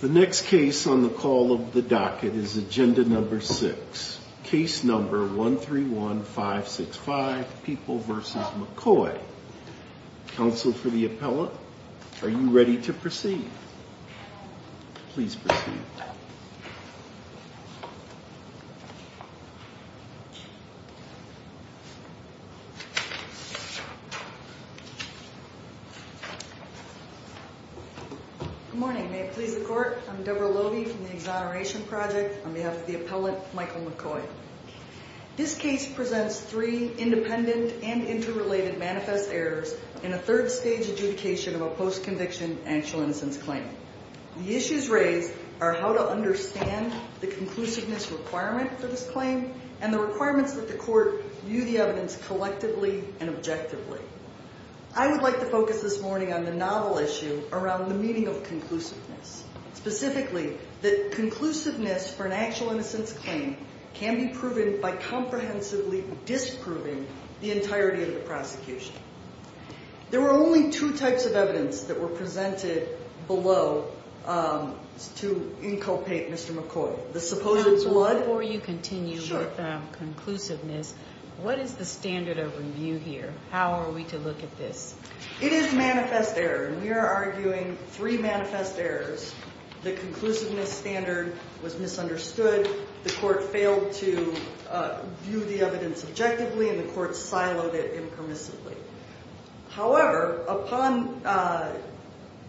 The next case on the call of the docket is agenda number six, case number 131565, People v. McCoy. Counsel for the appellant, are you ready to proceed? Please proceed. Good morning, may it please the court, I'm Deborah Lobey from the Exoneration Project on behalf of the appellant, Michael McCoy. This case presents three independent and interrelated manifest errors in a third stage adjudication of a post-conviction actual innocence claim. The issues raised are how to understand the conclusiveness requirement for this claim and the requirements that the court view the evidence collectively and objectively. I would like to focus this morning on the novel issue around the meaning of conclusiveness. Specifically, that conclusiveness for an actual innocence claim can be proven by comprehensively disproving the entirety of the prosecution. There were only two types of evidence that were presented below to inculpate Mr. McCoy. Before you continue with conclusiveness, what is the standard of review here? How are we to look at this? It is manifest error, and we are arguing three manifest errors. The conclusiveness standard was misunderstood, the court failed to view the evidence objectively, and the court siloed it impermissibly. However, upon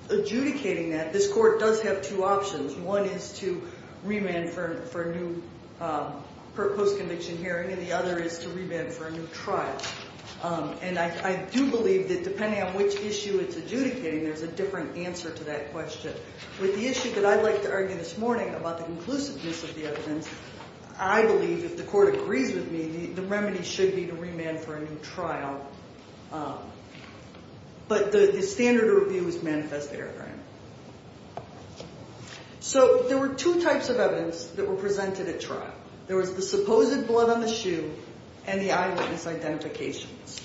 adjudicating that, this court does have two options. One is to remand for a new post-conviction hearing, and the other is to remand for a new trial. And I do believe that depending on which issue it's adjudicating, there's a different answer to that question. With the issue that I'd like to argue this morning about the conclusiveness of the evidence, I believe if the court agrees with me, the remedy should be to remand for a new trial. But the standard of review is manifest error. So there were two types of evidence that were presented at trial. There was the supposed blood on the shoe and the eyewitness identifications.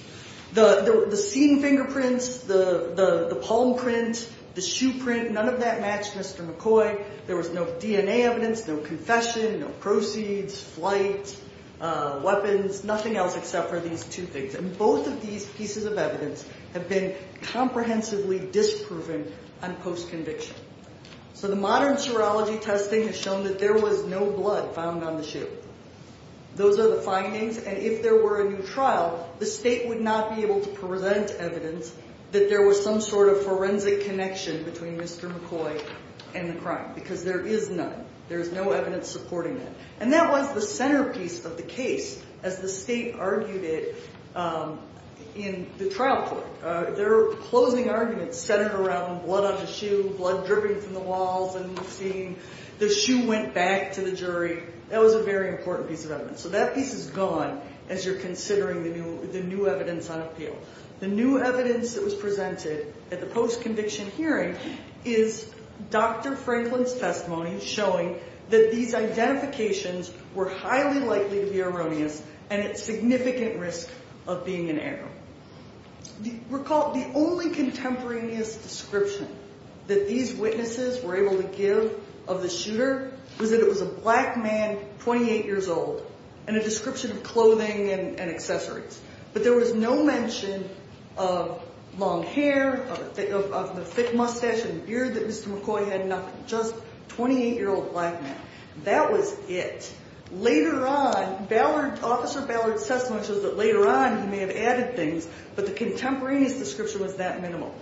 The seen fingerprints, the palm print, the shoe print, none of that matched Mr. McCoy. There was no DNA evidence, no confession, no proceeds, flight, weapons, nothing else except for these two things. And both of these pieces of evidence have been comprehensively disproven on post-conviction. So the modern serology testing has shown that there was no blood found on the shoe. Those are the findings. And if there were a new trial, the state would not be able to present evidence that there was some sort of forensic connection between Mr. McCoy and the crime because there is none. There is no evidence supporting that. And that was the centerpiece of the case as the state argued it in the trial court. Their closing argument centered around blood on the shoe, blood dripping from the walls and seeing the shoe went back to the jury. That was a very important piece of evidence. So that piece is gone as you're considering the new evidence on appeal. The new evidence that was presented at the post-conviction hearing is Dr. Franklin's testimony showing that these identifications were highly likely to be erroneous and at significant risk of being an error. Recall the only contemporaneous description that these witnesses were able to give of the shooter was that it was a black man, 28 years old, and a description of clothing and accessories. But there was no mention of long hair, of the thick mustache and beard that Mr. McCoy had, nothing. Just 28-year-old black man. That was it. Later on, Officer Ballard's testimony shows that later on he may have added things, but the contemporaneous description was that minimal.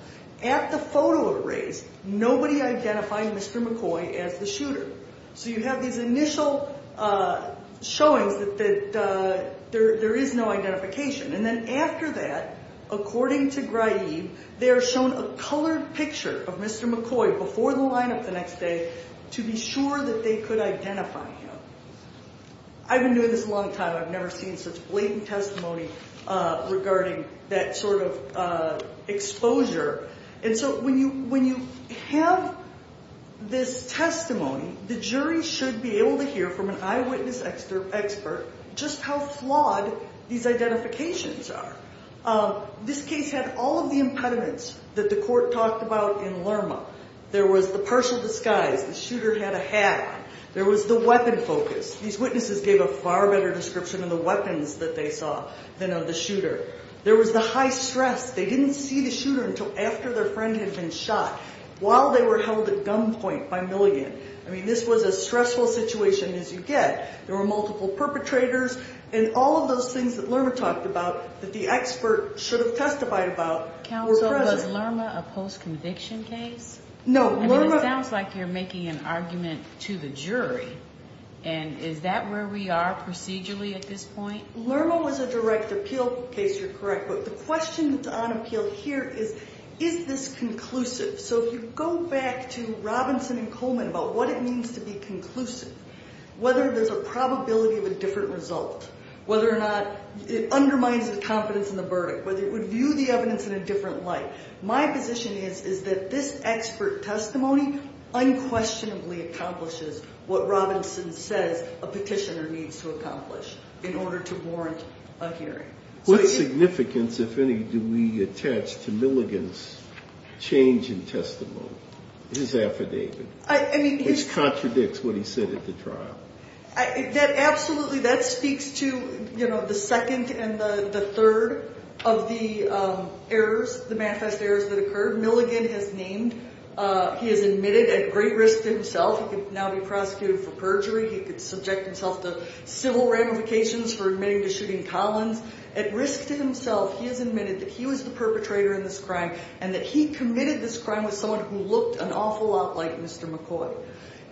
At the photo erase, nobody identified Mr. McCoy as the shooter. So you have these initial showings that there is no identification. And then after that, according to Graib, they are shown a colored picture of Mr. McCoy before the lineup the next day to be sure that they could identify him. I've been doing this a long time. I've never seen such blatant testimony regarding that sort of exposure. And so when you have this testimony, the jury should be able to hear from an eyewitness expert just how flawed these identifications are. This case had all of the impediments that the court talked about in Lerma. There was the partial disguise. The shooter had a hat on. There was the weapon focus. These witnesses gave a far better description of the weapons that they saw than of the shooter. There was the high stress. They didn't see the shooter until after their friend had been shot while they were held at gunpoint by Milligan. I mean, this was a stressful situation as you get. There were multiple perpetrators, and all of those things that Lerma talked about that the expert should have testified about were present. Counsel, was Lerma a post-conviction case? No. I mean, it sounds like you're making an argument to the jury, and is that where we are procedurally at this point? Lerma was a direct appeal case. You're correct. But the question on appeal here is, is this conclusive? So if you go back to Robinson and Coleman about what it means to be conclusive, whether there's a probability of a different result, whether or not it undermines the confidence in the verdict, whether it would view the evidence in a different light, my position is that this expert testimony unquestionably accomplishes what Robinson says a petitioner needs to accomplish in order to warrant a hearing. What significance, if any, do we attach to Milligan's change in testimony, his affidavit, which contradicts what he said at the trial? Absolutely. That speaks to the second and the third of the errors, the manifest errors that occurred. Milligan has named – he has admitted at great risk to himself he could now be prosecuted for perjury. He could subject himself to civil ramifications for admitting to shooting Collins. At risk to himself, he has admitted that he was the perpetrator in this crime and that he committed this crime with someone who looked an awful lot like Mr. McCoy.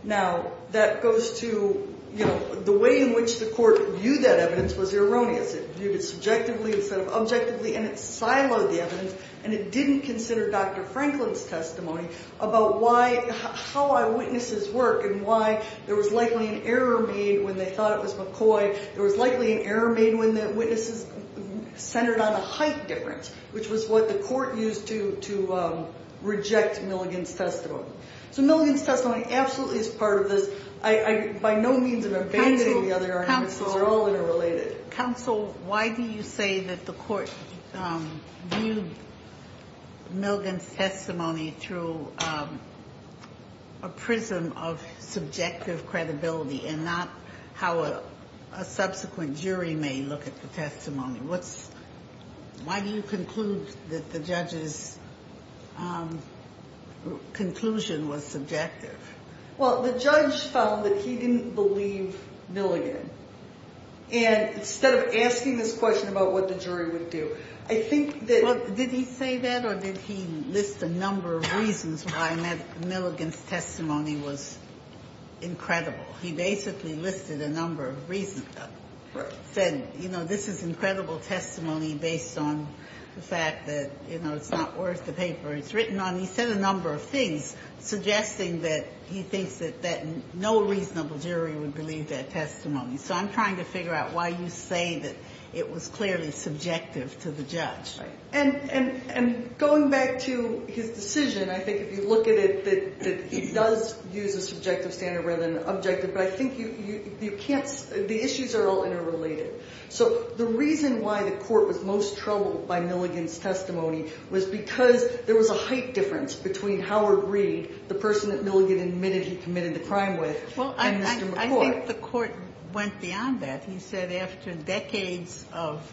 Now, that goes to, you know, the way in which the court viewed that evidence was erroneous. It viewed it subjectively instead of objectively, and it siloed the evidence, and it didn't consider Dr. Franklin's testimony about why – how eyewitnesses work and why there was likely an error made when they thought it was McCoy. There was likely an error made when the witnesses centered on a height difference, which was what the court used to reject Milligan's testimony. So Milligan's testimony absolutely is part of this. By no means am I abandoning the other arguments. These are all interrelated. Counsel, why do you say that the court viewed Milligan's testimony through a prism of subjective credibility and not how a subsequent jury may look at the testimony? What's – why do you conclude that the judge's conclusion was subjective? Well, the judge found that he didn't believe Milligan. And instead of asking this question about what the jury would do, I think that – Well, did he say that, or did he list a number of reasons why Milligan's testimony was incredible? He basically listed a number of reasons. Correct. Said, you know, this is incredible testimony based on the fact that, you know, it's not worth the paper it's written on. He said a number of things suggesting that he thinks that no reasonable jury would believe that testimony. So I'm trying to figure out why you say that it was clearly subjective to the judge. And going back to his decision, I think if you look at it, that he does use a subjective standard rather than an objective. But I think you can't – the issues are all interrelated. So the reason why the court was most troubled by Milligan's testimony was because there was a height difference between Howard Reed, the person that Milligan admitted he committed the crime with, and Mr. McCourt. Well, I think the court went beyond that. He said after decades of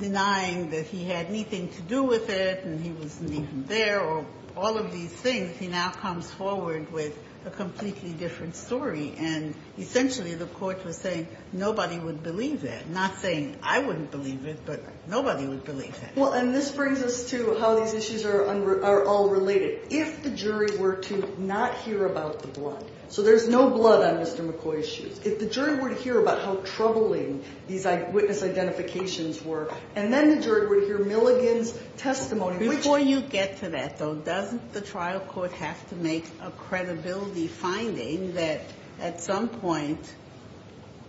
denying that he had anything to do with it and he wasn't even there or all of these things, he now comes forward with a completely different story. And essentially the court was saying nobody would believe that. Not saying I wouldn't believe it, but nobody would believe that. Well, and this brings us to how these issues are all related. If the jury were to not hear about the blood – so there's no blood on Mr. McCourt's shoes. If the jury were to hear about how troubling these witness identifications were, and then the jury would hear Milligan's testimony. Before you get to that, though, doesn't the trial court have to make a credibility finding that at some point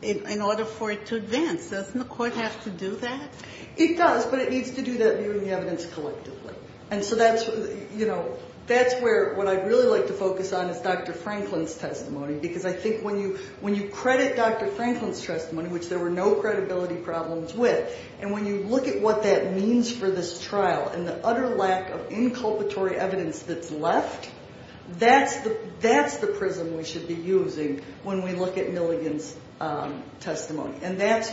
in order for it to advance? Doesn't the court have to do that? It does, but it needs to do that viewing the evidence collectively. And so that's, you know, that's where what I'd really like to focus on is Dr. Franklin's testimony, because I think when you credit Dr. Franklin's testimony, which there were no credibility problems with, and when you look at what that means for this trial and the utter lack of inculpatory evidence that's left, that's the prism we should be using when we look at Milligan's testimony. And that's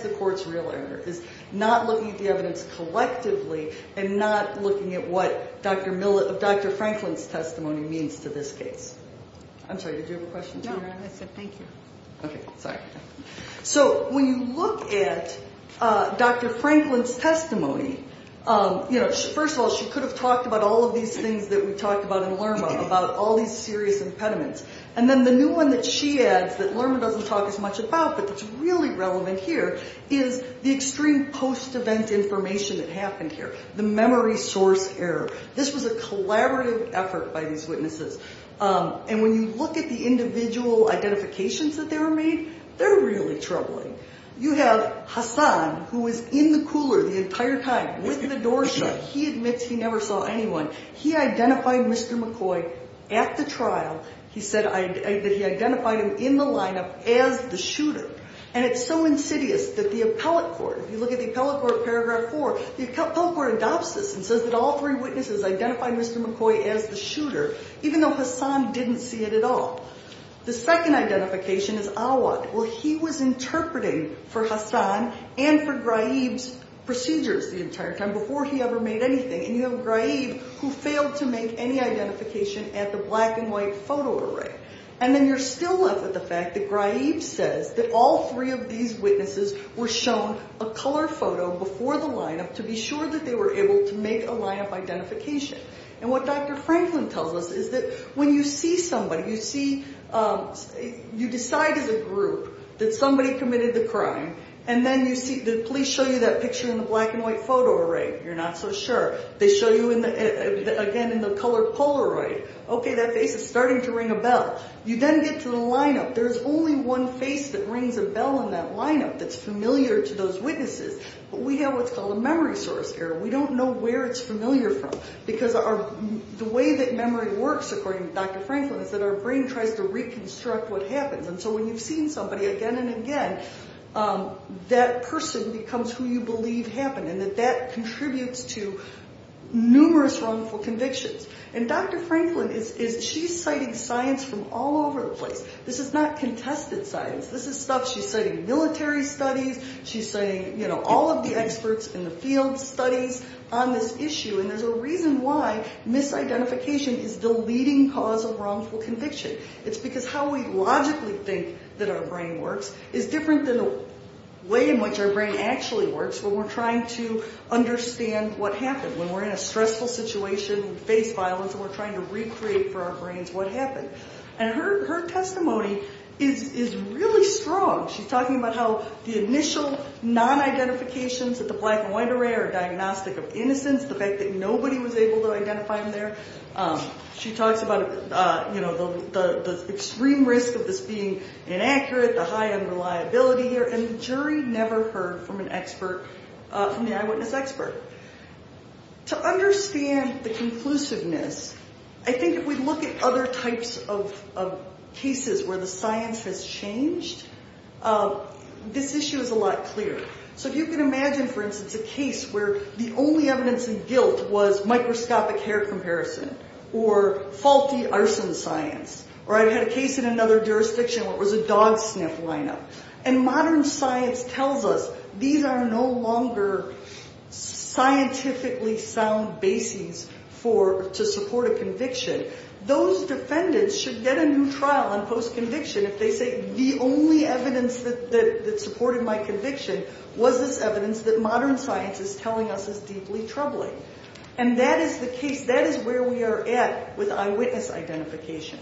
the court's real error, is not looking at the evidence collectively and not looking at what Dr. Franklin's testimony means to this case. I'm sorry, did you have a question? No, I said thank you. Okay, sorry. So when you look at Dr. Franklin's testimony, you know, first of all, she could have talked about all of these things that we talked about in LERMA, about all these serious impediments. And then the new one that she adds that LERMA doesn't talk as much about but that's really relevant here is the extreme post-event information that happened here, the memory source error. This was a collaborative effort by these witnesses. And when you look at the individual identifications that they were made, they're really troubling. You have Hassan, who was in the cooler the entire time with the door shut. He admits he never saw anyone. He identified Mr. McCoy at the trial. He said that he identified him in the lineup as the shooter. And it's so insidious that the appellate court, if you look at the appellate court paragraph 4, the appellate court adopts this and says that all three witnesses identified Mr. McCoy as the shooter, even though Hassan didn't see it at all. The second identification is Awad. Well, he was interpreting for Hassan and for Ghraib's procedures the entire time before he ever made anything. And you have Ghraib, who failed to make any identification at the black and white photo array. And then you're still left with the fact that Ghraib says that all three of these witnesses were shown a color photo before the lineup to be sure that they were able to make a lineup identification. And what Dr. Franklin tells us is that when you see somebody, you see, you decide as a group that somebody committed the crime. And then you see the police show you that picture in the black and white photo array. You're not so sure. They show you, again, in the color Polaroid. Okay, that face is starting to ring a bell. You then get to the lineup. There's only one face that rings a bell in that lineup that's familiar to those witnesses. But we have what's called a memory source error. We don't know where it's familiar from because the way that memory works, according to Dr. Franklin, is that our brain tries to reconstruct what happens. And so when you've seen somebody again and again, that person becomes who you believe happened and that that contributes to numerous wrongful convictions. And Dr. Franklin, she's citing science from all over the place. This is not contested science. This is stuff she's citing military studies. She's citing, you know, all of the experts in the field studies on this issue. And there's a reason why misidentification is the leading cause of wrongful conviction. It's because how we logically think that our brain works is different than the way in which our brain actually works when we're trying to understand what happened. When we're in a stressful situation, face violence, and we're trying to recreate for our brains what happened. And her testimony is really strong. She's talking about how the initial non-identifications of the black and white array are diagnostic of innocence, the fact that nobody was able to identify them there. She talks about, you know, the extreme risk of this being inaccurate, the high unreliability here. And the jury never heard from an expert, from the eyewitness expert. To understand the conclusiveness, I think if we look at other types of cases where the science has changed, this issue is a lot clearer. So if you can imagine, for instance, a case where the only evidence of guilt was microscopic hair comparison or faulty arson science. Or I've had a case in another jurisdiction where it was a dog sniff lineup. And modern science tells us these are no longer scientifically sound bases to support a conviction. Those defendants should get a new trial on post-conviction if they say the only evidence that supported my conviction was this evidence that modern science is telling us is deeply troubling. And that is the case. That is where we are at with eyewitness identification.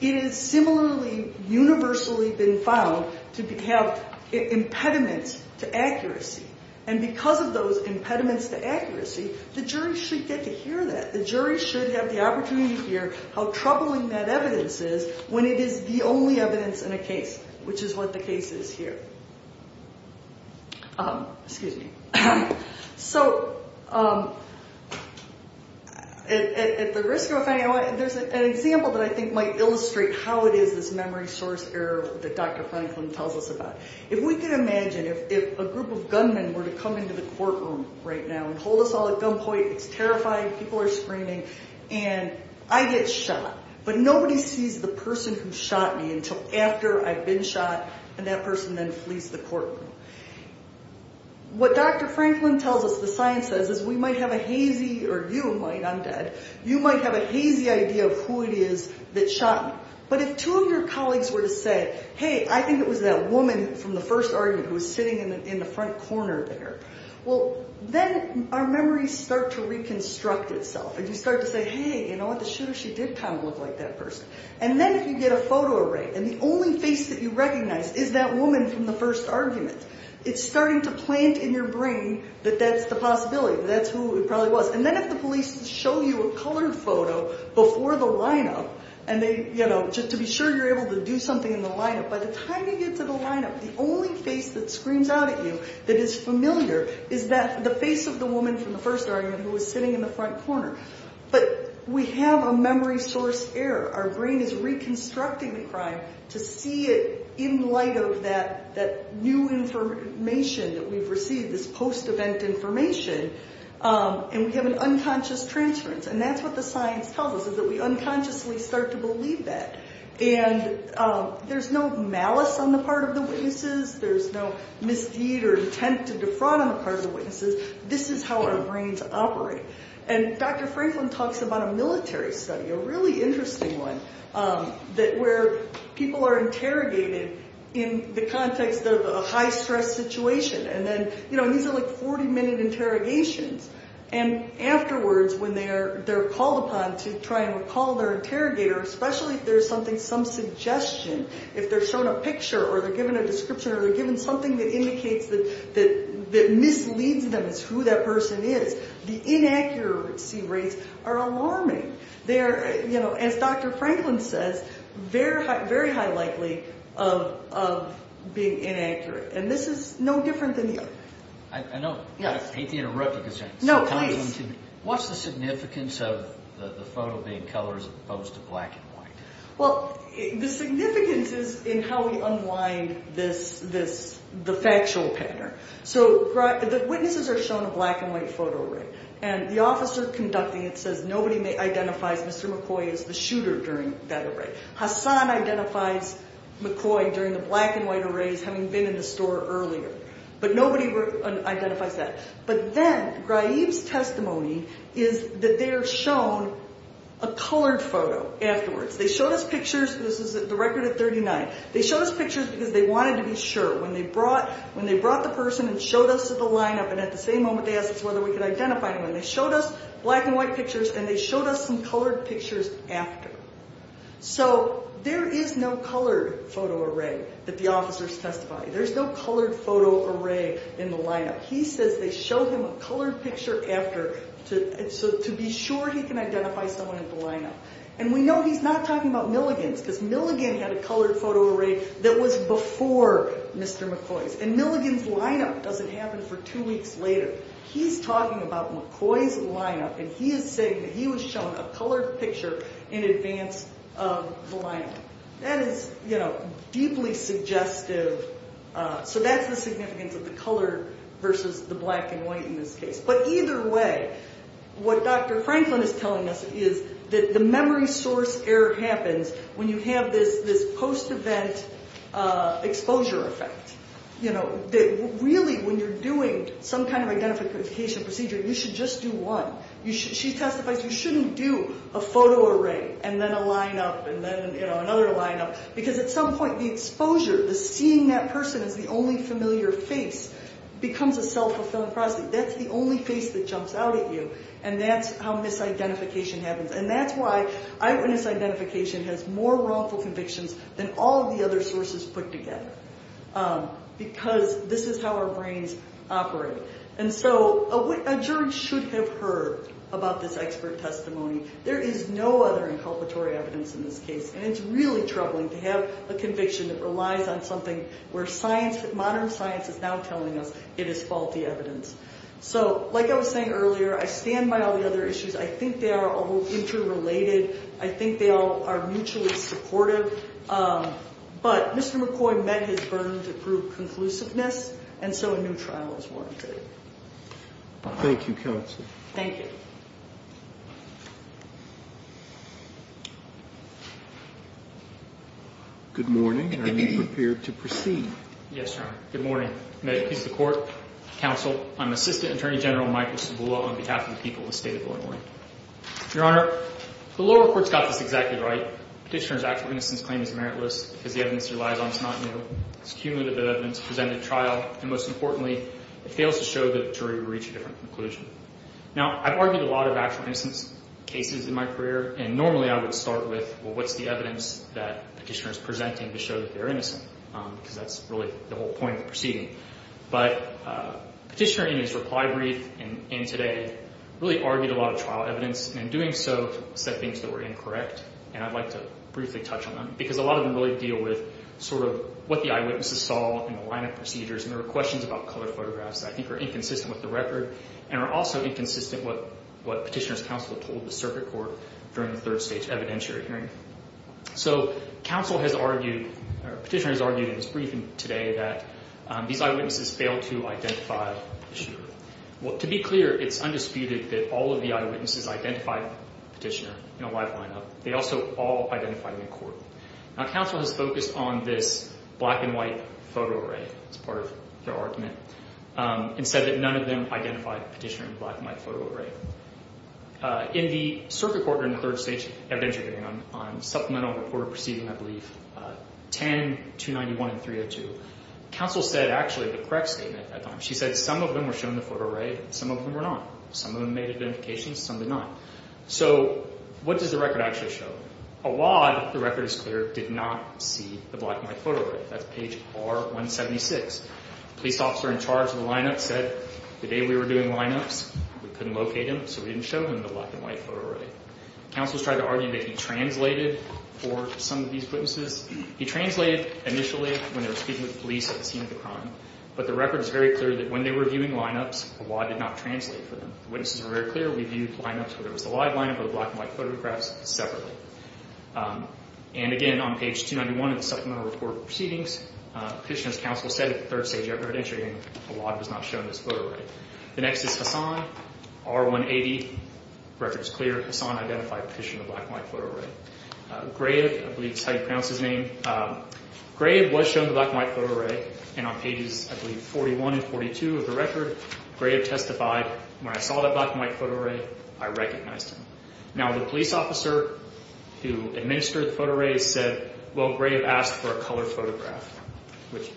It has similarly universally been found to have impediments to accuracy. And because of those impediments to accuracy, the jury should get to hear that. The jury should have the opportunity to hear how troubling that evidence is when it is the only evidence in a case, which is what the case is here. Excuse me. So at the risk of... There's an example that I think might illustrate how it is this memory source error that Dr. Franklin tells us about. If we could imagine if a group of gunmen were to come into the courtroom right now and hold us all at gunpoint, it's terrifying, people are screaming, and I get shot. But nobody sees the person who shot me until after I've been shot, and that person then flees the courtroom. What Dr. Franklin tells us, the science says, is we might have a hazy, or you might, I'm dead, you might have a hazy idea of who it is that shot me. But if two of your colleagues were to say, hey, I think it was that woman from the first argument who was sitting in the front corner there, well, then our memories start to reconstruct itself. And you start to say, hey, you know what, the shooter, she did kind of look like that person. And then if you get a photo array, and the only face that you recognize is that woman from the first argument, it's starting to plant in your brain that that's the possibility, that that's who it probably was. And then if the police show you a colored photo before the lineup, and they, you know, to be sure you're able to do something in the lineup, by the time you get to the lineup, the only face that screams out at you that is familiar is the face of the woman from the first argument who was sitting in the front corner. But we have a memory source error. Our brain is reconstructing the crime to see it in light of that new information that we've received, this post-event information, and we have an unconscious transference. And that's what the science tells us, is that we unconsciously start to believe that. And there's no malice on the part of the witnesses. There's no misdeed or intent to defraud on the part of the witnesses. This is how our brains operate. And Dr. Franklin talks about a military study, a really interesting one, where people are interrogated in the context of a high-stress situation. And then, you know, these are like 40-minute interrogations. And afterwards, when they're called upon to try and recall their interrogator, especially if there's something, some suggestion, if they're shown a picture or they're given a description or they're given something that indicates that, that misleads them as to who that person is, the inaccuracy rates are alarming. They are, you know, as Dr. Franklin says, very high likely of being inaccurate. And this is no different than the other. I know. I hate to interrupt, but can I ask you something? What's the significance of the photo being colored as opposed to black and white? Well, the significance is in how we unwind this, the factual pattern. So the witnesses are shown a black and white photo array. And the officer conducting it says nobody identifies Mr. McCoy as the shooter during that array. Hassan identifies McCoy during the black and white arrays having been in the store earlier. But nobody identifies that. But then, Graib's testimony is that they are shown a colored photo afterwards. They showed us pictures. This is the record at 39. They showed us pictures because they wanted to be sure. When they brought the person and showed us the lineup, and at the same moment they asked us whether we could identify him, and they showed us black and white pictures, and they showed us some colored pictures after. So there is no colored photo array that the officers testify. There's no colored photo array in the lineup. He says they show him a colored picture after to be sure he can identify someone in the lineup. And we know he's not talking about Milligan's, because Milligan had a colored photo array that was before Mr. McCoy's. And Milligan's lineup doesn't happen for two weeks later. He's talking about McCoy's lineup, and he is saying that he was shown a colored picture in advance of the lineup. That is, you know, deeply suggestive. So that's the significance of the color versus the black and white in this case. But either way, what Dr. Franklin is telling us is that the memory source error happens when you have this post-event exposure effect, you know, that really when you're doing some kind of identification procedure, you should just do one. She testifies you shouldn't do a photo array and then a lineup and then, you know, another lineup, because at some point the exposure, the seeing that person as the only familiar face, becomes a self-fulfilling prophecy. That's the only face that jumps out at you, and that's how misidentification happens. And that's why eyewitness identification has more wrongful convictions than all of the other sources put together, because this is how our brains operate. And so a jury should have heard about this expert testimony. There is no other inculpatory evidence in this case, and it's really troubling to have a conviction that relies on something where science, modern science is now telling us it is faulty evidence. So like I was saying earlier, I stand by all the other issues. I think they are all interrelated. I think they all are mutually supportive. But Mr. McCoy met his burden to prove conclusiveness, and so a new trial is warranted. Thank you, counsel. Thank you. Good morning, and are you prepared to proceed? Yes, Your Honor. Good morning. I'm going to introduce the court, counsel. I'm Assistant Attorney General Michael Cibula on behalf of the people of the State of Illinois. Your Honor, the lower court's got this exactly right. Petitioner's actual innocence claim is meritless because the evidence he relies on is not new. It's cumulative evidence presented at trial, and most importantly, it fails to show that a jury would reach a different conclusion. Now, I've argued a lot of actual innocence cases in my career, and normally I would start with, well, what's the evidence that Petitioner is presenting to show that they're innocent? Because that's really the whole point of the proceeding. But Petitioner in his reply brief and today really argued a lot of trial evidence, and in doing so said things that were incorrect, and I'd like to briefly touch on them because a lot of them really deal with sort of what the eyewitnesses saw in the line of procedures, and there were questions about colored photographs that I think are inconsistent with the record and are also inconsistent with what Petitioner's counsel told the circuit court during the third stage evidentiary hearing. So counsel has argued or Petitioner has argued in his briefing today that these eyewitnesses failed to identify the shooter. Well, to be clear, it's undisputed that all of the eyewitnesses identified Petitioner in a live lineup. They also all identified him in court. Now, counsel has focused on this black and white photo array as part of their argument and said that none of them identified Petitioner in black and white photo array. In the circuit court during the third stage evidentiary hearing on Supplemental Report of Proceedings, I believe, 10, 291, and 302, counsel said actually the correct statement at that time. She said some of them were shown in the photo array and some of them were not. Some of them made identifications. Some did not. So what does the record actually show? A lot, the record is clear, did not see the black and white photo array. That's page R176. Police officer in charge of the lineup said the day we were doing lineups, we couldn't locate him, so we didn't show him in the black and white photo array. Counsel has tried to argue that he translated for some of these witnesses. He translated initially when they were speaking with police at the scene of the crime, but the record is very clear that when they were viewing lineups, a lot did not translate for them. The witnesses were very clear. We viewed lineups, whether it was the live lineup or the black and white photographs, separately. And, again, on page 291 of the supplemental report proceedings, Petitioner's counsel said at the third stage after her entry, a lot was not shown in this photo array. The next is Hassan, R180. The record is clear. Hassan identified Petitioner in the black and white photo array. Grave, I believe is how you pronounce his name. Grave was shown in the black and white photo array, and on pages, I believe, 41 and 42 of the record, Grave testified, when I saw that black and white photo array, I recognized him. Now, the police officer who administered the photo array said, well, Grave asked for a color photograph,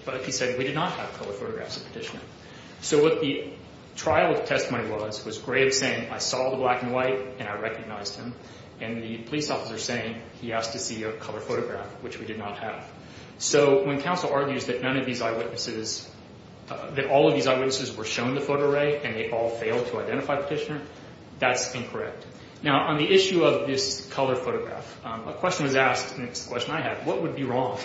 but he said we did not have color photographs of Petitioner. So what the trial testimony was, was Grave saying, I saw the black and white, and I recognized him, and the police officer saying he asked to see a color photograph, which we did not have. So when counsel argues that none of these eyewitnesses, that all of these eyewitnesses were shown in the photo array and they all failed to identify Petitioner, that's incorrect. Now, on the issue of this color photograph, a question was asked, and it's the question I had, what would be wrong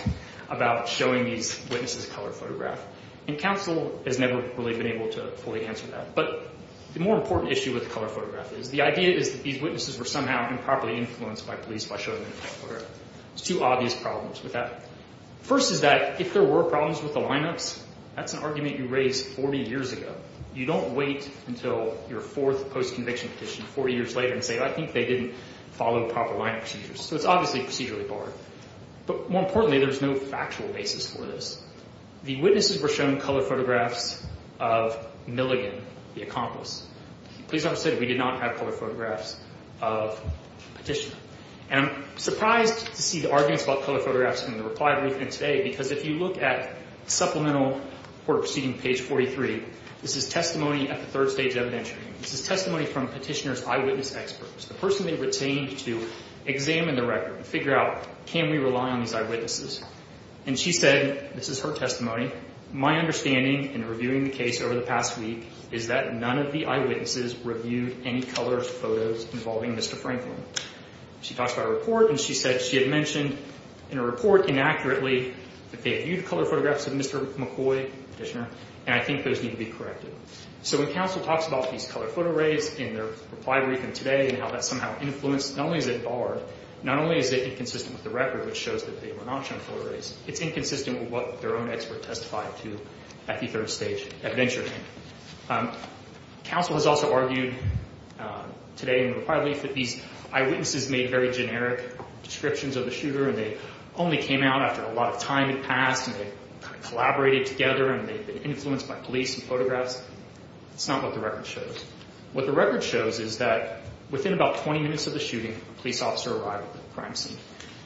about showing these witnesses a color photograph? And counsel has never really been able to fully answer that. But the more important issue with the color photograph is the idea is that these witnesses were somehow improperly influenced by police by showing them in the photo array. There's two obvious problems with that. First is that if there were problems with the lineups, that's an argument you raised 40 years ago. You don't wait until your fourth post-conviction petition 40 years later and say, I think they didn't follow proper lineup procedures. So it's obviously procedurally barred. But more importantly, there's no factual basis for this. The witnesses were shown color photographs of Milligan, the accomplice. Please understand, we did not have color photographs of Petitioner. And I'm surprised to see the arguments about color photographs in the reply we've written today, because if you look at supplemental court proceeding page 43, this is testimony at the third stage evidentiary. This is testimony from Petitioner's eyewitness experts, the person they retained to examine the record, figure out can we rely on these eyewitnesses. And she said, this is her testimony, my understanding in reviewing the case over the past week is that none of the eyewitnesses reviewed any color photos involving Mr. Franklin. She talks about a report and she said she had mentioned in a report inaccurately that they viewed color photographs of Mr. McCoy, Petitioner, and I think those need to be corrected. So when counsel talks about these color photo arrays in their reply brief and today and how that somehow influenced, not only is it barred, not only is it inconsistent with the record, which shows that they were not shown photo arrays, it's inconsistent with what their own expert testified to at the third stage evidentiary. Counsel has also argued today in the reply brief that these eyewitnesses made very generic descriptions of the shooter and they only came out after a lot of time had passed and they collaborated together and they've been influenced by police and photographs. It's not what the record shows. What the record shows is that within about 20 minutes of the shooting, a police officer arrived at the crime scene.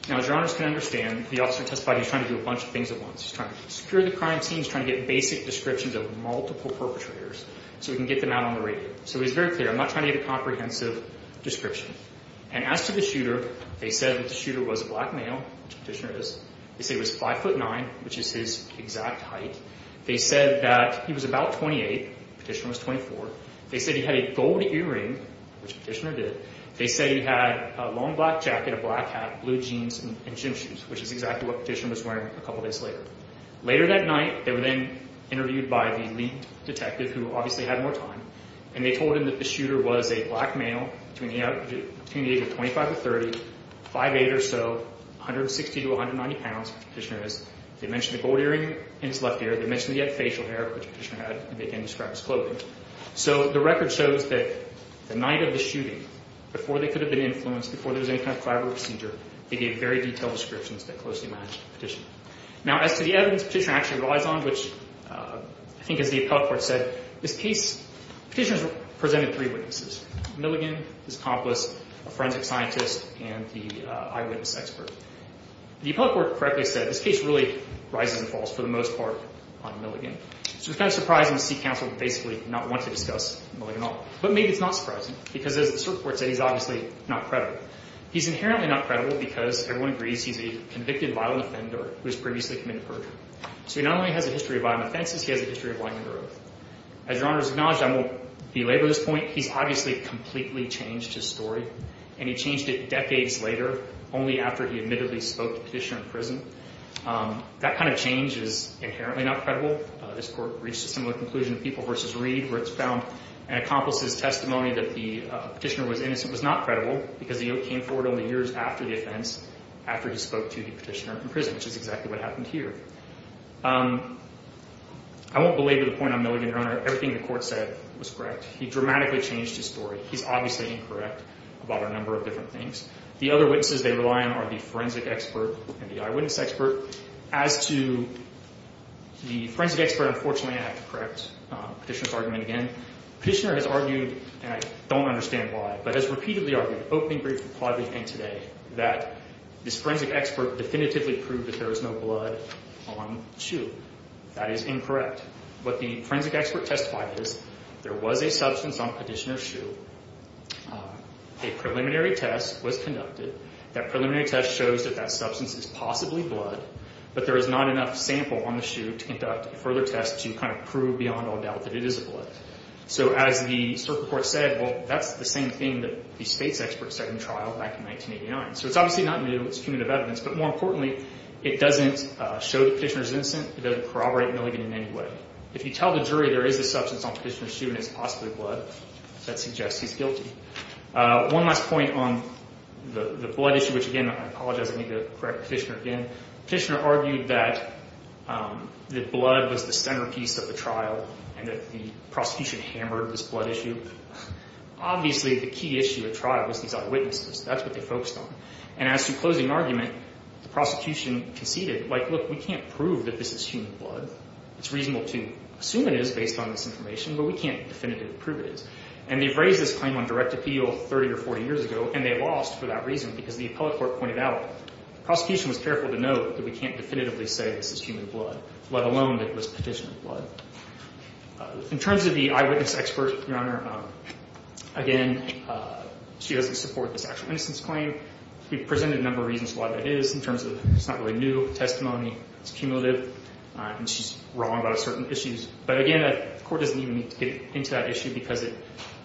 Now, as your honors can understand, the officer testified he was trying to do a bunch of things at once. He's trying to secure the crime scene. He's trying to get basic descriptions of multiple perpetrators so he can get them out on the radar. So he's very clear. I'm not trying to get a comprehensive description. And as to the shooter, they said that the shooter was a black male, which Petitioner is. They said he was 5'9", which is his exact height. They said that he was about 28. Petitioner was 24. They said he had a gold earring, which Petitioner did. They said he had a long black jacket, a black hat, blue jeans, and gym shoes, which is exactly what Petitioner was wearing a couple days later. Later that night, they were then interviewed by the lead detective, who obviously had more time, and they told him that the shooter was a black male between the age of 25 to 30, 5'8", or so, 160 to 190 pounds, which Petitioner is. They mentioned the gold earring in his left ear. They mentioned he had facial hair, which Petitioner had, and they can describe as clothing. So the record shows that the night of the shooting, before they could have been influenced, before there was any kind of collateral procedure, they gave very detailed descriptions that closely matched Petitioner. Now, as to the evidence Petitioner actually relies on, which I think as the appellate court said, this case Petitioner has presented three witnesses, Milligan, his accomplice, a forensic scientist, and the eyewitness expert. The appellate court correctly said this case really rises and falls for the most part on Milligan. So it's kind of surprising to see counsel basically not want to discuss Milligan at all. But maybe it's not surprising, because as the circuit court said, he's obviously not credible. He's inherently not credible because everyone agrees he's a convicted violent offender who has previously committed perjury. So he not only has a history of violent offenses, he has a history of violent growth. As Your Honor has acknowledged, I won't belabor this point, he's obviously completely changed his story, and he changed it decades later, only after he admittedly spoke to Petitioner in prison. That kind of change is inherently not credible. This court reached a similar conclusion in People v. Reed, where it's found an accomplice's testimony that the Petitioner was innocent was not credible, because he came forward only years after the offense, after he spoke to the Petitioner in prison, which is exactly what happened here. I won't belabor the point on Milligan, Your Honor. Everything the court said was correct. He dramatically changed his story. He's obviously incorrect about a number of different things. The other witnesses they rely on are the forensic expert and the eyewitness expert. As to the forensic expert, unfortunately, I have to correct Petitioner's argument again. Petitioner has argued, and I don't understand why, but has repeatedly argued, openly, briefly, plaudibly, and today, that this forensic expert definitively proved that there was no blood on Shue. That is incorrect. What the forensic expert testified is there was a substance on Petitioner's shoe. A preliminary test was conducted. That preliminary test shows that that substance is possibly blood, but there is not enough sample on the shoe to conduct further tests to kind of prove beyond all doubt that it is blood. So as the circuit court said, well, that's the same thing that the space expert said in trial back in 1989. So it's obviously not new. It's cumulative evidence. But more importantly, it doesn't show that Petitioner is innocent. It doesn't corroborate Milligan in any way. If you tell the jury there is a substance on Petitioner's shoe and it's possibly blood, that suggests he's guilty. One last point on the blood issue, which, again, I apologize. I need to correct Petitioner again. Petitioner argued that the blood was the centerpiece of the trial and that the prosecution hammered this blood issue. Obviously, the key issue at trial was these eyewitnesses. That's what they focused on. And as to closing argument, the prosecution conceded, like, look, we can't prove that this is human blood. It's reasonable to assume it is based on this information. But we can't definitively prove it is. And they've raised this claim on direct appeal 30 or 40 years ago. And they lost for that reason because the appellate court pointed out the prosecution was careful to note that we can't definitively say this is human blood, let alone that it was Petitioner's blood. In terms of the eyewitness expert, Your Honor, again, she doesn't support this actual innocence claim. We've presented a number of reasons why that is in terms of it's not really new testimony. It's cumulative. And she's wrong about certain issues. But again, the court doesn't even need to get into that issue because it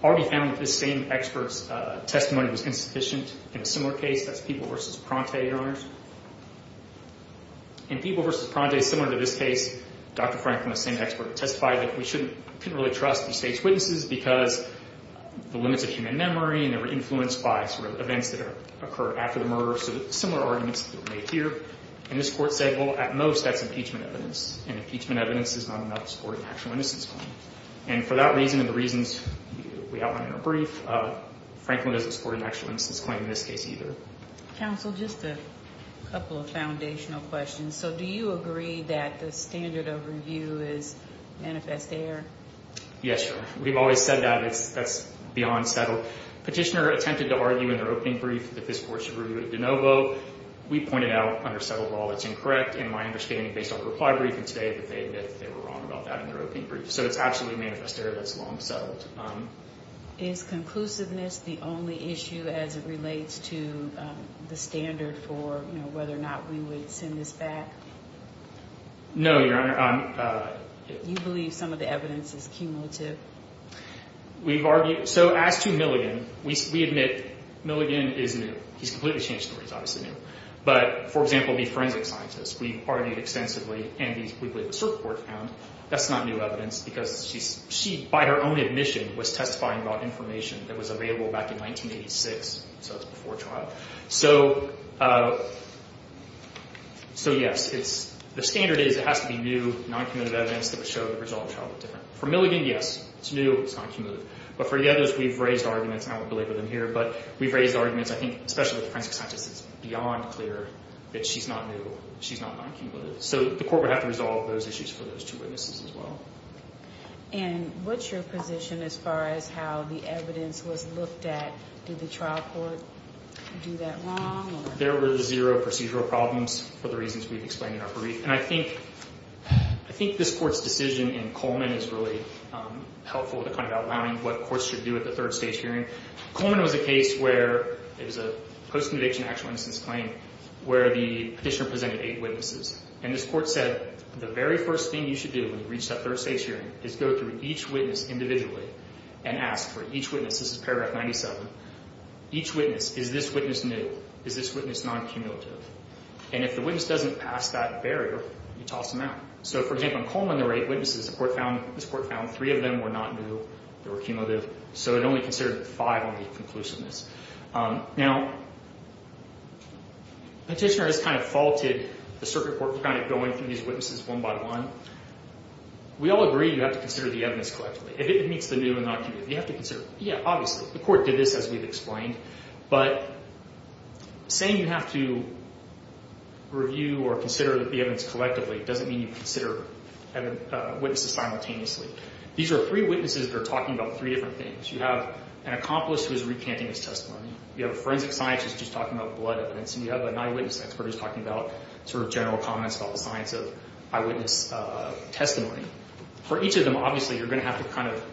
already found that this same expert's testimony was insufficient in a similar case. That's People v. Pronte, Your Honors. In People v. Pronte, similar to this case, Dr. Franklin, the same expert, testified that we shouldn't really trust these stage witnesses because the limits of human memory and they were influenced by sort of events that occurred after the murder. So similar arguments were made here. And this court said, well, at most, that's impeachment evidence. And impeachment evidence is not enough to support an actual innocence claim. And for that reason and the reasons we outlined in our brief, Franklin doesn't support an actual innocence claim in this case either. Counsel, just a couple of foundational questions. So do you agree that the standard of review is manifest error? Yes, Your Honor. We've always said that. That's beyond settled. So petitioner attempted to argue in their opening brief that this court should review it de novo. We pointed out under settled law it's incorrect. And my understanding, based on the reply brief and today, that they admit that they were wrong about that in their opening brief. So it's absolutely manifest error that's long settled. Is conclusiveness the only issue as it relates to the standard for whether or not we would send this back? No, Your Honor. You believe some of the evidence is cumulative? We've argued. So as to Milligan, we admit Milligan is new. He's completely changed. He's obviously new. But, for example, the forensic scientists, we've argued extensively and we believe the circuit court found that's not new evidence because she, by her own admission, was testifying about information that was available back in 1986. So it's before trial. So, yes, the standard is it has to be new, non-cumulative evidence that would show the result of trial different. For Milligan, yes, it's new, it's non-cumulative. But for the others, we've raised arguments, and I won't belabor them here, but we've raised arguments. I think especially the forensic scientists, it's beyond clear that she's not new, she's not non-cumulative. So the court would have to resolve those issues for those two witnesses as well. And what's your position as far as how the evidence was looked at? Did the trial court do that wrong? There were zero procedural problems for the reasons we've explained in our brief. And I think this Court's decision in Coleman is really helpful to kind of outlining what courts should do at the third stage hearing. Coleman was a case where it was a post-conviction actual innocence claim where the petitioner presented eight witnesses. And this Court said the very first thing you should do when you reach that third stage hearing is go through each witness individually and ask for each witness. This is paragraph 97. Each witness, is this witness new? Is this witness non-cumulative? And if the witness doesn't pass that barrier, you toss them out. So, for example, in Coleman there were eight witnesses. This Court found three of them were not new, they were cumulative, so it only considered five on the conclusiveness. Now, petitioner has kind of faulted the circuit court for kind of going through these witnesses one by one. We all agree you have to consider the evidence collectively. If it meets the new and non-cumulative, you have to consider it. Yeah, obviously. The Court did this, as we've explained. But saying you have to review or consider the evidence collectively doesn't mean you consider witnesses simultaneously. These are three witnesses that are talking about three different things. You have an accomplice who is recanting his testimony. You have a forensic scientist who's talking about blood evidence. And you have a non-witness expert who's talking about sort of general comments about the science of eyewitness testimony. And for each of them, obviously, you're going to have to kind of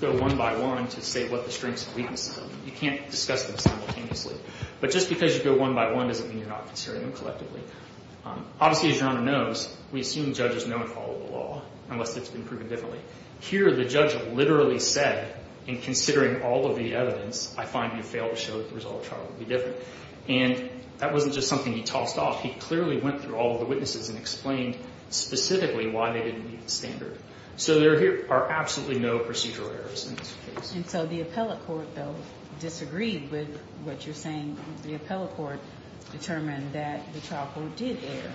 go one by one to say what the strengths and weaknesses are. You can't discuss them simultaneously. But just because you go one by one doesn't mean you're not considering them collectively. Obviously, as Your Honor knows, we assume judges know and follow the law, unless it's been proven differently. Here, the judge literally said, in considering all of the evidence, I find you failed to show that the result of trial would be different. And that wasn't just something he tossed off. He clearly went through all of the witnesses and explained specifically why they didn't meet the standard. So there are absolutely no procedural errors in this case. And so the appellate court, though, disagreed with what you're saying. The appellate court determined that the trial court did err.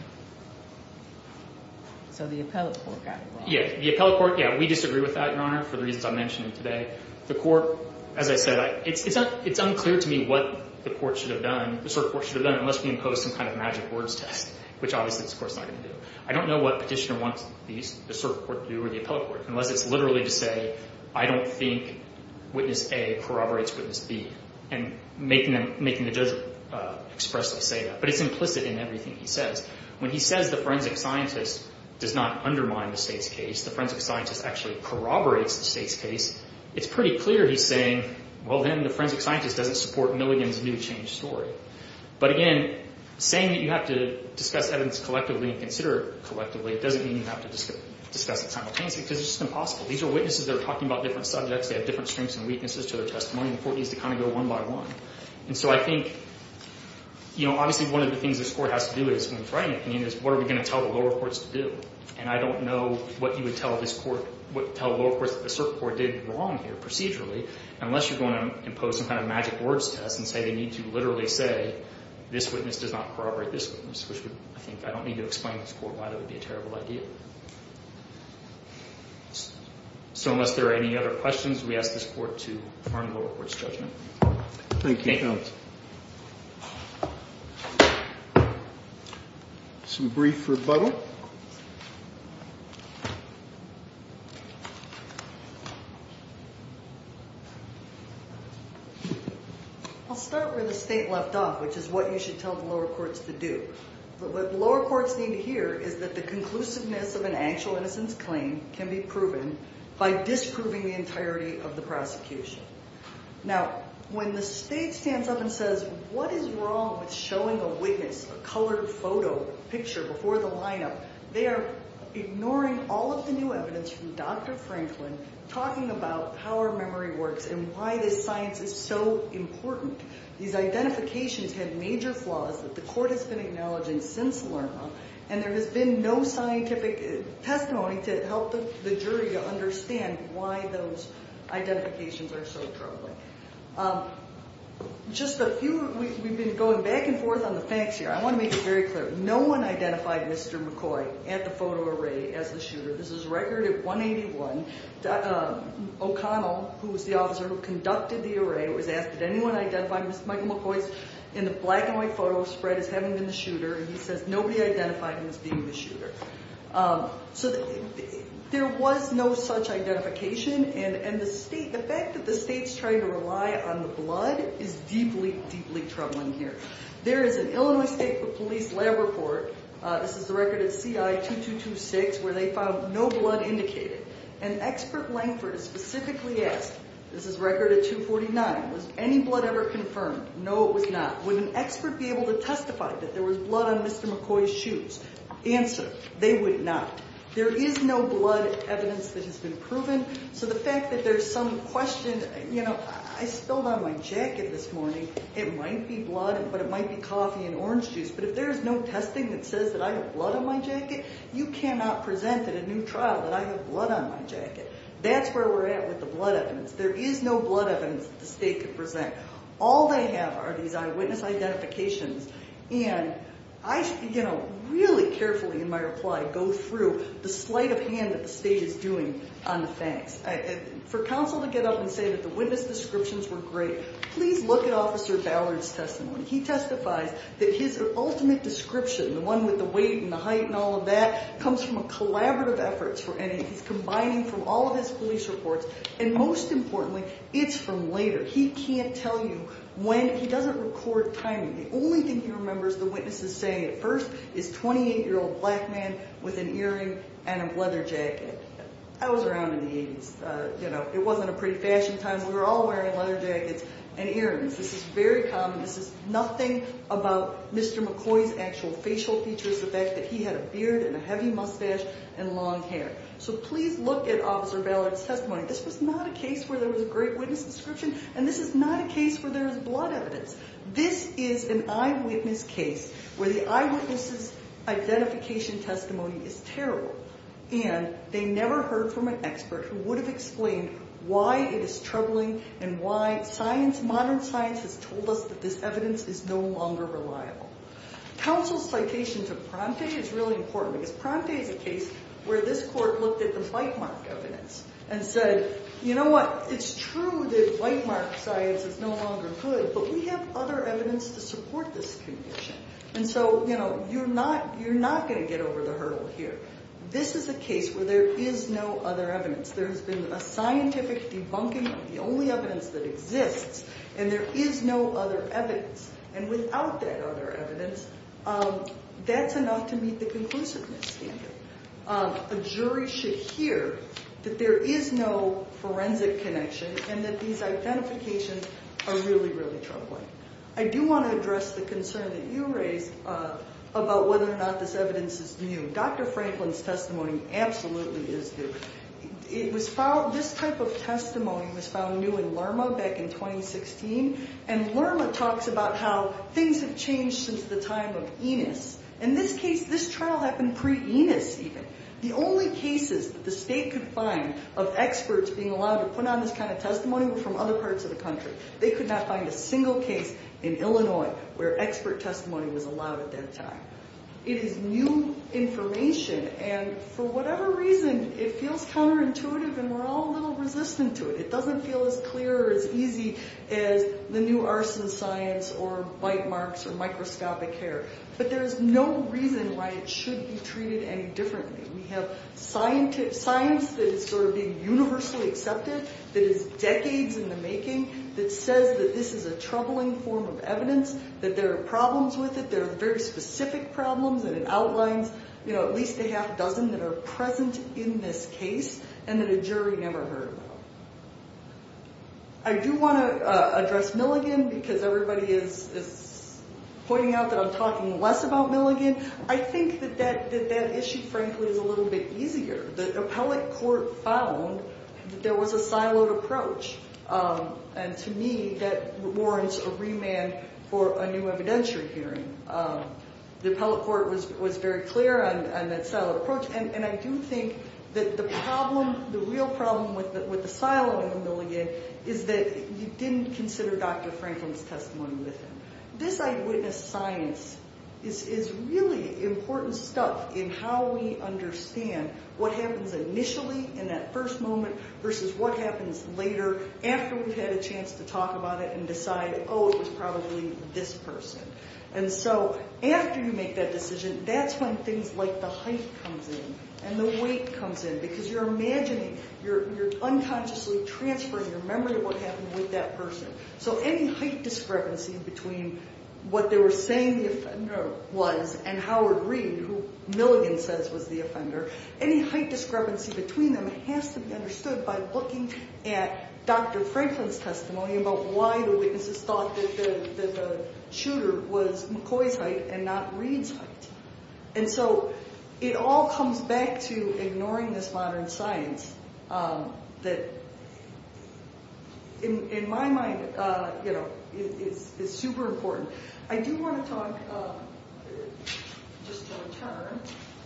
So the appellate court got it wrong. Yeah. The appellate court, yeah, we disagree with that, Your Honor, for the reasons I mentioned today. The court, as I said, it's unclear to me what the court should have done, the cert court should have done, unless we imposed some kind of magic words test, which obviously this Court's not going to do. I don't know what Petitioner wants the cert court to do or the appellate court, unless it's literally to say, I don't think witness A corroborates witness B, and making the judge expressly say that. But it's implicit in everything he says. When he says the forensic scientist does not undermine the state's case, the forensic scientist actually corroborates the state's case, it's pretty clear he's saying, well, then the forensic scientist doesn't support Milligan's new change story. But again, saying that you have to discuss evidence collectively and consider it collectively, it doesn't mean you have to discuss it simultaneously, because it's just impossible. These are witnesses that are talking about different subjects. They have different strengths and weaknesses to their testimony. The court needs to kind of go one by one. And so I think, you know, obviously one of the things this Court has to do is, when it's writing an opinion, is what are we going to tell the lower courts to do? And I don't know what you would tell this Court, what you would tell the lower courts that the cert court did wrong here procedurally, unless you're going to impose some kind of magic words test and say they need to literally say, this witness does not corroborate this witness, which I think I don't need to explain to this Court why that would be a terrible idea. So unless there are any other questions, we ask this Court to confirm the lower court's judgment. Thank you. Some brief rebuttal. I'll start where the state left off, which is what you should tell the lower courts to do. What lower courts need to hear is that the conclusiveness of an actual innocence claim can be proven by disproving the entirety of the prosecution. Now, when the state stands up and says, what is wrong with showing a witness a colored photo picture before the lineup, they are ignoring all of the new evidence from Dr. Franklin, talking about how our memory works and why this science is so important. These identifications have major flaws that the Court has been acknowledging since Lerma, and there has been no scientific testimony to help the jury to understand why those identifications are so troubling. Just a few, we've been going back and forth on the facts here. I want to make it very clear. No one identified Mr. McCoy at the photo array as the shooter. This is a record at 181. O'Connell, who was the officer who conducted the array, was asked, did anyone identify Mr. Michael McCoy in the black and white photo spread as having been the shooter? And he says, nobody identified him as being the shooter. So there was no such identification, and the fact that the state's trying to rely on the blood is deeply, deeply troubling here. There is an Illinois State Police lab report, this is the record at CI-2226, where they found no blood indicated. And expert Langford is specifically asked, this is record at 249, was any blood ever confirmed? No, it was not. Would an expert be able to testify that there was blood on Mr. McCoy's shoes? Answer, they would not. There is no blood evidence that has been proven. So the fact that there's some question, you know, I spilled on my jacket this morning. It might be blood, but it might be coffee and orange juice. But if there's no testing that says that I have blood on my jacket, you cannot present in a new trial that I have blood on my jacket. That's where we're at with the blood evidence. There is no blood evidence that the state could present. All they have are these eyewitness identifications, and I, you know, really carefully in my reply go through the sleight of hand that the state is doing on the facts. For counsel to get up and say that the witness descriptions were great, please look at Officer Ballard's testimony. He testifies that his ultimate description, the one with the weight and the height and all of that, comes from a collaborative effort. And he's combining from all of his police reports, and most importantly, it's from later. He can't tell you when. He doesn't record timing. The only thing he remembers the witnesses saying at first is 28-year-old black man with an earring and a leather jacket. I was around in the 80s. You know, it wasn't a pretty fashion time. We were all wearing leather jackets and earrings. This is very common. This is nothing about Mr. McCoy's actual facial features, the fact that he had a beard and a heavy mustache and long hair. So please look at Officer Ballard's testimony. This was not a case where there was a great witness description, and this is not a case where there is blood evidence. This is an eyewitness case where the eyewitness's identification testimony is terrible, and they never heard from an expert who would have explained why it is troubling and why science, modern science, has told us that this evidence is no longer reliable. Counsel's citation to Pronte is really important because Pronte is a case where this court looked at the bite mark evidence and said, you know what, it's true that bite mark science is no longer good, but we have other evidence to support this condition. And so, you know, you're not going to get over the hurdle here. This is a case where there is no other evidence. There has been a scientific debunking of the only evidence that exists, and there is no other evidence. And without that other evidence, that's enough to meet the conclusiveness standard. A jury should hear that there is no forensic connection and that these identifications are really, really troubling. I do want to address the concern that you raised about whether or not this evidence is new. Dr. Franklin's testimony absolutely is new. This type of testimony was found new in Lerma back in 2016, and Lerma talks about how things have changed since the time of Enos. In this case, this trial happened pre-Enos even. The only cases that the state could find of experts being allowed to put on this kind of testimony were from other parts of the country. They could not find a single case in Illinois where expert testimony was allowed at that time. It is new information, and for whatever reason, it feels counterintuitive and we're all a little resistant to it. It doesn't feel as clear or as easy as the new arson science or bite marks or microscopic hair. But there is no reason why it should be treated any differently. We have science that is sort of being universally accepted that is decades in the making that says that this is a troubling form of evidence, that there are problems with it, there are very specific problems, and it outlines at least a half dozen that are present in this case and that a jury never heard about. I do want to address Milligan because everybody is pointing out that I'm talking less about Milligan. I think that that issue, frankly, is a little bit easier. The appellate court found that there was a siloed approach, and to me, that warrants a remand for a new evidentiary hearing. The appellate court was very clear on that siloed approach, and I do think that the problem, the real problem with the siloing of Milligan is that you didn't consider Dr. Franklin's testimony with him. This eyewitness science is really important stuff in how we understand what happens initially in that first moment versus what happens later after we've had a chance to talk about it and decide, oh, it was probably this person. And so after you make that decision, that's when things like the height comes in and the weight comes in because you're imagining, you're unconsciously transferring your memory of what happened with that person. So any height discrepancy between what they were saying the offender was and Howard Reed, who Milligan says was the offender, any height discrepancy between them has to be understood by looking at Dr. Franklin's testimony about why the witnesses thought that the shooter was McCoy's height and not Reed's height. And so it all comes back to ignoring this modern science that, in my mind, is super important. I do want to talk, just to return,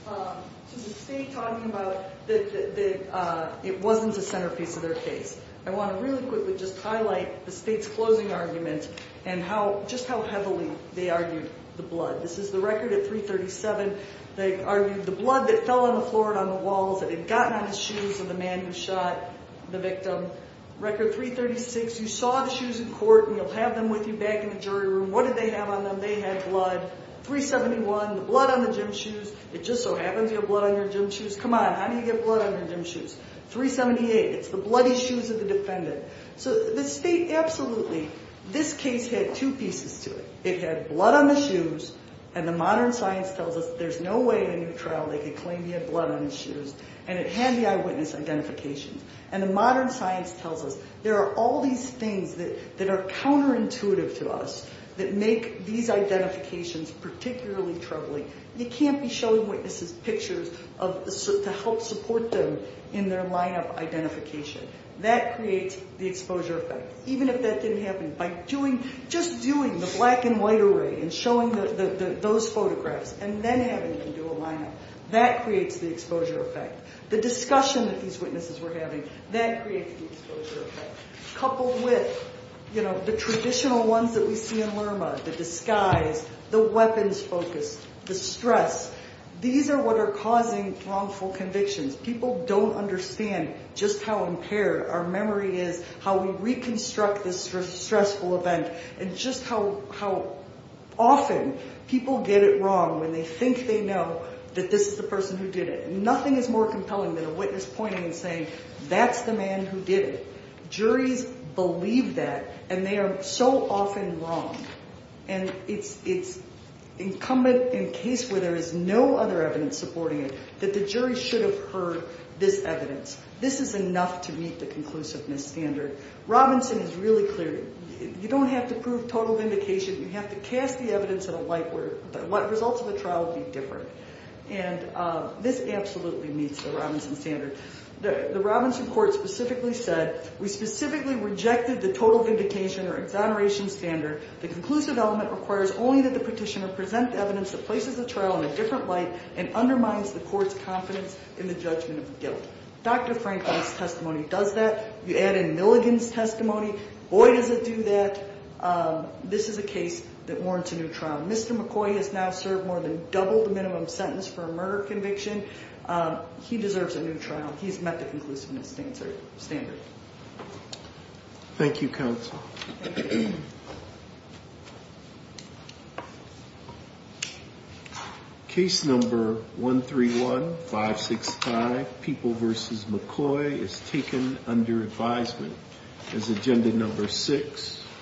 to the state talking about that it wasn't the centerpiece of their case. I want to really quickly just highlight the state's closing argument and just how heavily they argued the blood. This is the record at 337. They argued the blood that fell on the floor and on the walls that had gotten on his shoes of the man who shot the victim. Record 336, you saw the shoes in court and you'll have them with you back in the jury room. What did they have on them? They had blood. 371, the blood on the gym shoes. It just so happens you have blood on your gym shoes. Come on, how do you get blood on your gym shoes? 378, it's the bloody shoes of the defendant. So the state absolutely, this case had two pieces to it. It had blood on the shoes and the modern science tells us there's no way in a new trial they could claim he had blood on his shoes. And it had the eyewitness identification. And the modern science tells us there are all these things that are counterintuitive to us that make these identifications particularly troubling. You can't be showing witnesses pictures to help support them in their lineup identification. That creates the exposure effect. Even if that didn't happen, by just doing the black and white array and showing those photographs and then having them do a lineup, that creates the exposure effect. The discussion that these witnesses were having, that creates the exposure effect. Coupled with, you know, the traditional ones that we see in LRMA, the disguise, the weapons focus, the stress, these are what are causing wrongful convictions. People don't understand just how impaired our memory is, how we reconstruct this stressful event, and just how often people get it wrong when they think they know that this is the person who did it. Nothing is more compelling than a witness pointing and saying, that's the man who did it. Juries believe that, and they are so often wrong. And it's incumbent in case where there is no other evidence supporting it that the jury should have heard this evidence. This is enough to meet the conclusiveness standard. Robinson is really clear. You don't have to prove total vindication. You have to cast the evidence in a light where what results of the trial would be different. And this absolutely meets the Robinson standard. The Robinson court specifically said, we specifically rejected the total vindication or exoneration standard. The conclusive element requires only that the petitioner present evidence that places the trial in a different light and undermines the court's confidence in the judgment of guilt. Dr. Franklin's testimony does that. You add in Milligan's testimony. Boy, does it do that. This is a case that warrants a new trial. Mr. McCoy has now served more than double the minimum sentence for a murder conviction. He deserves a new trial. He's met the conclusiveness standard. Thank you, counsel. Case number 131565, People v. McCoy, is taken under advisement as agenda number six.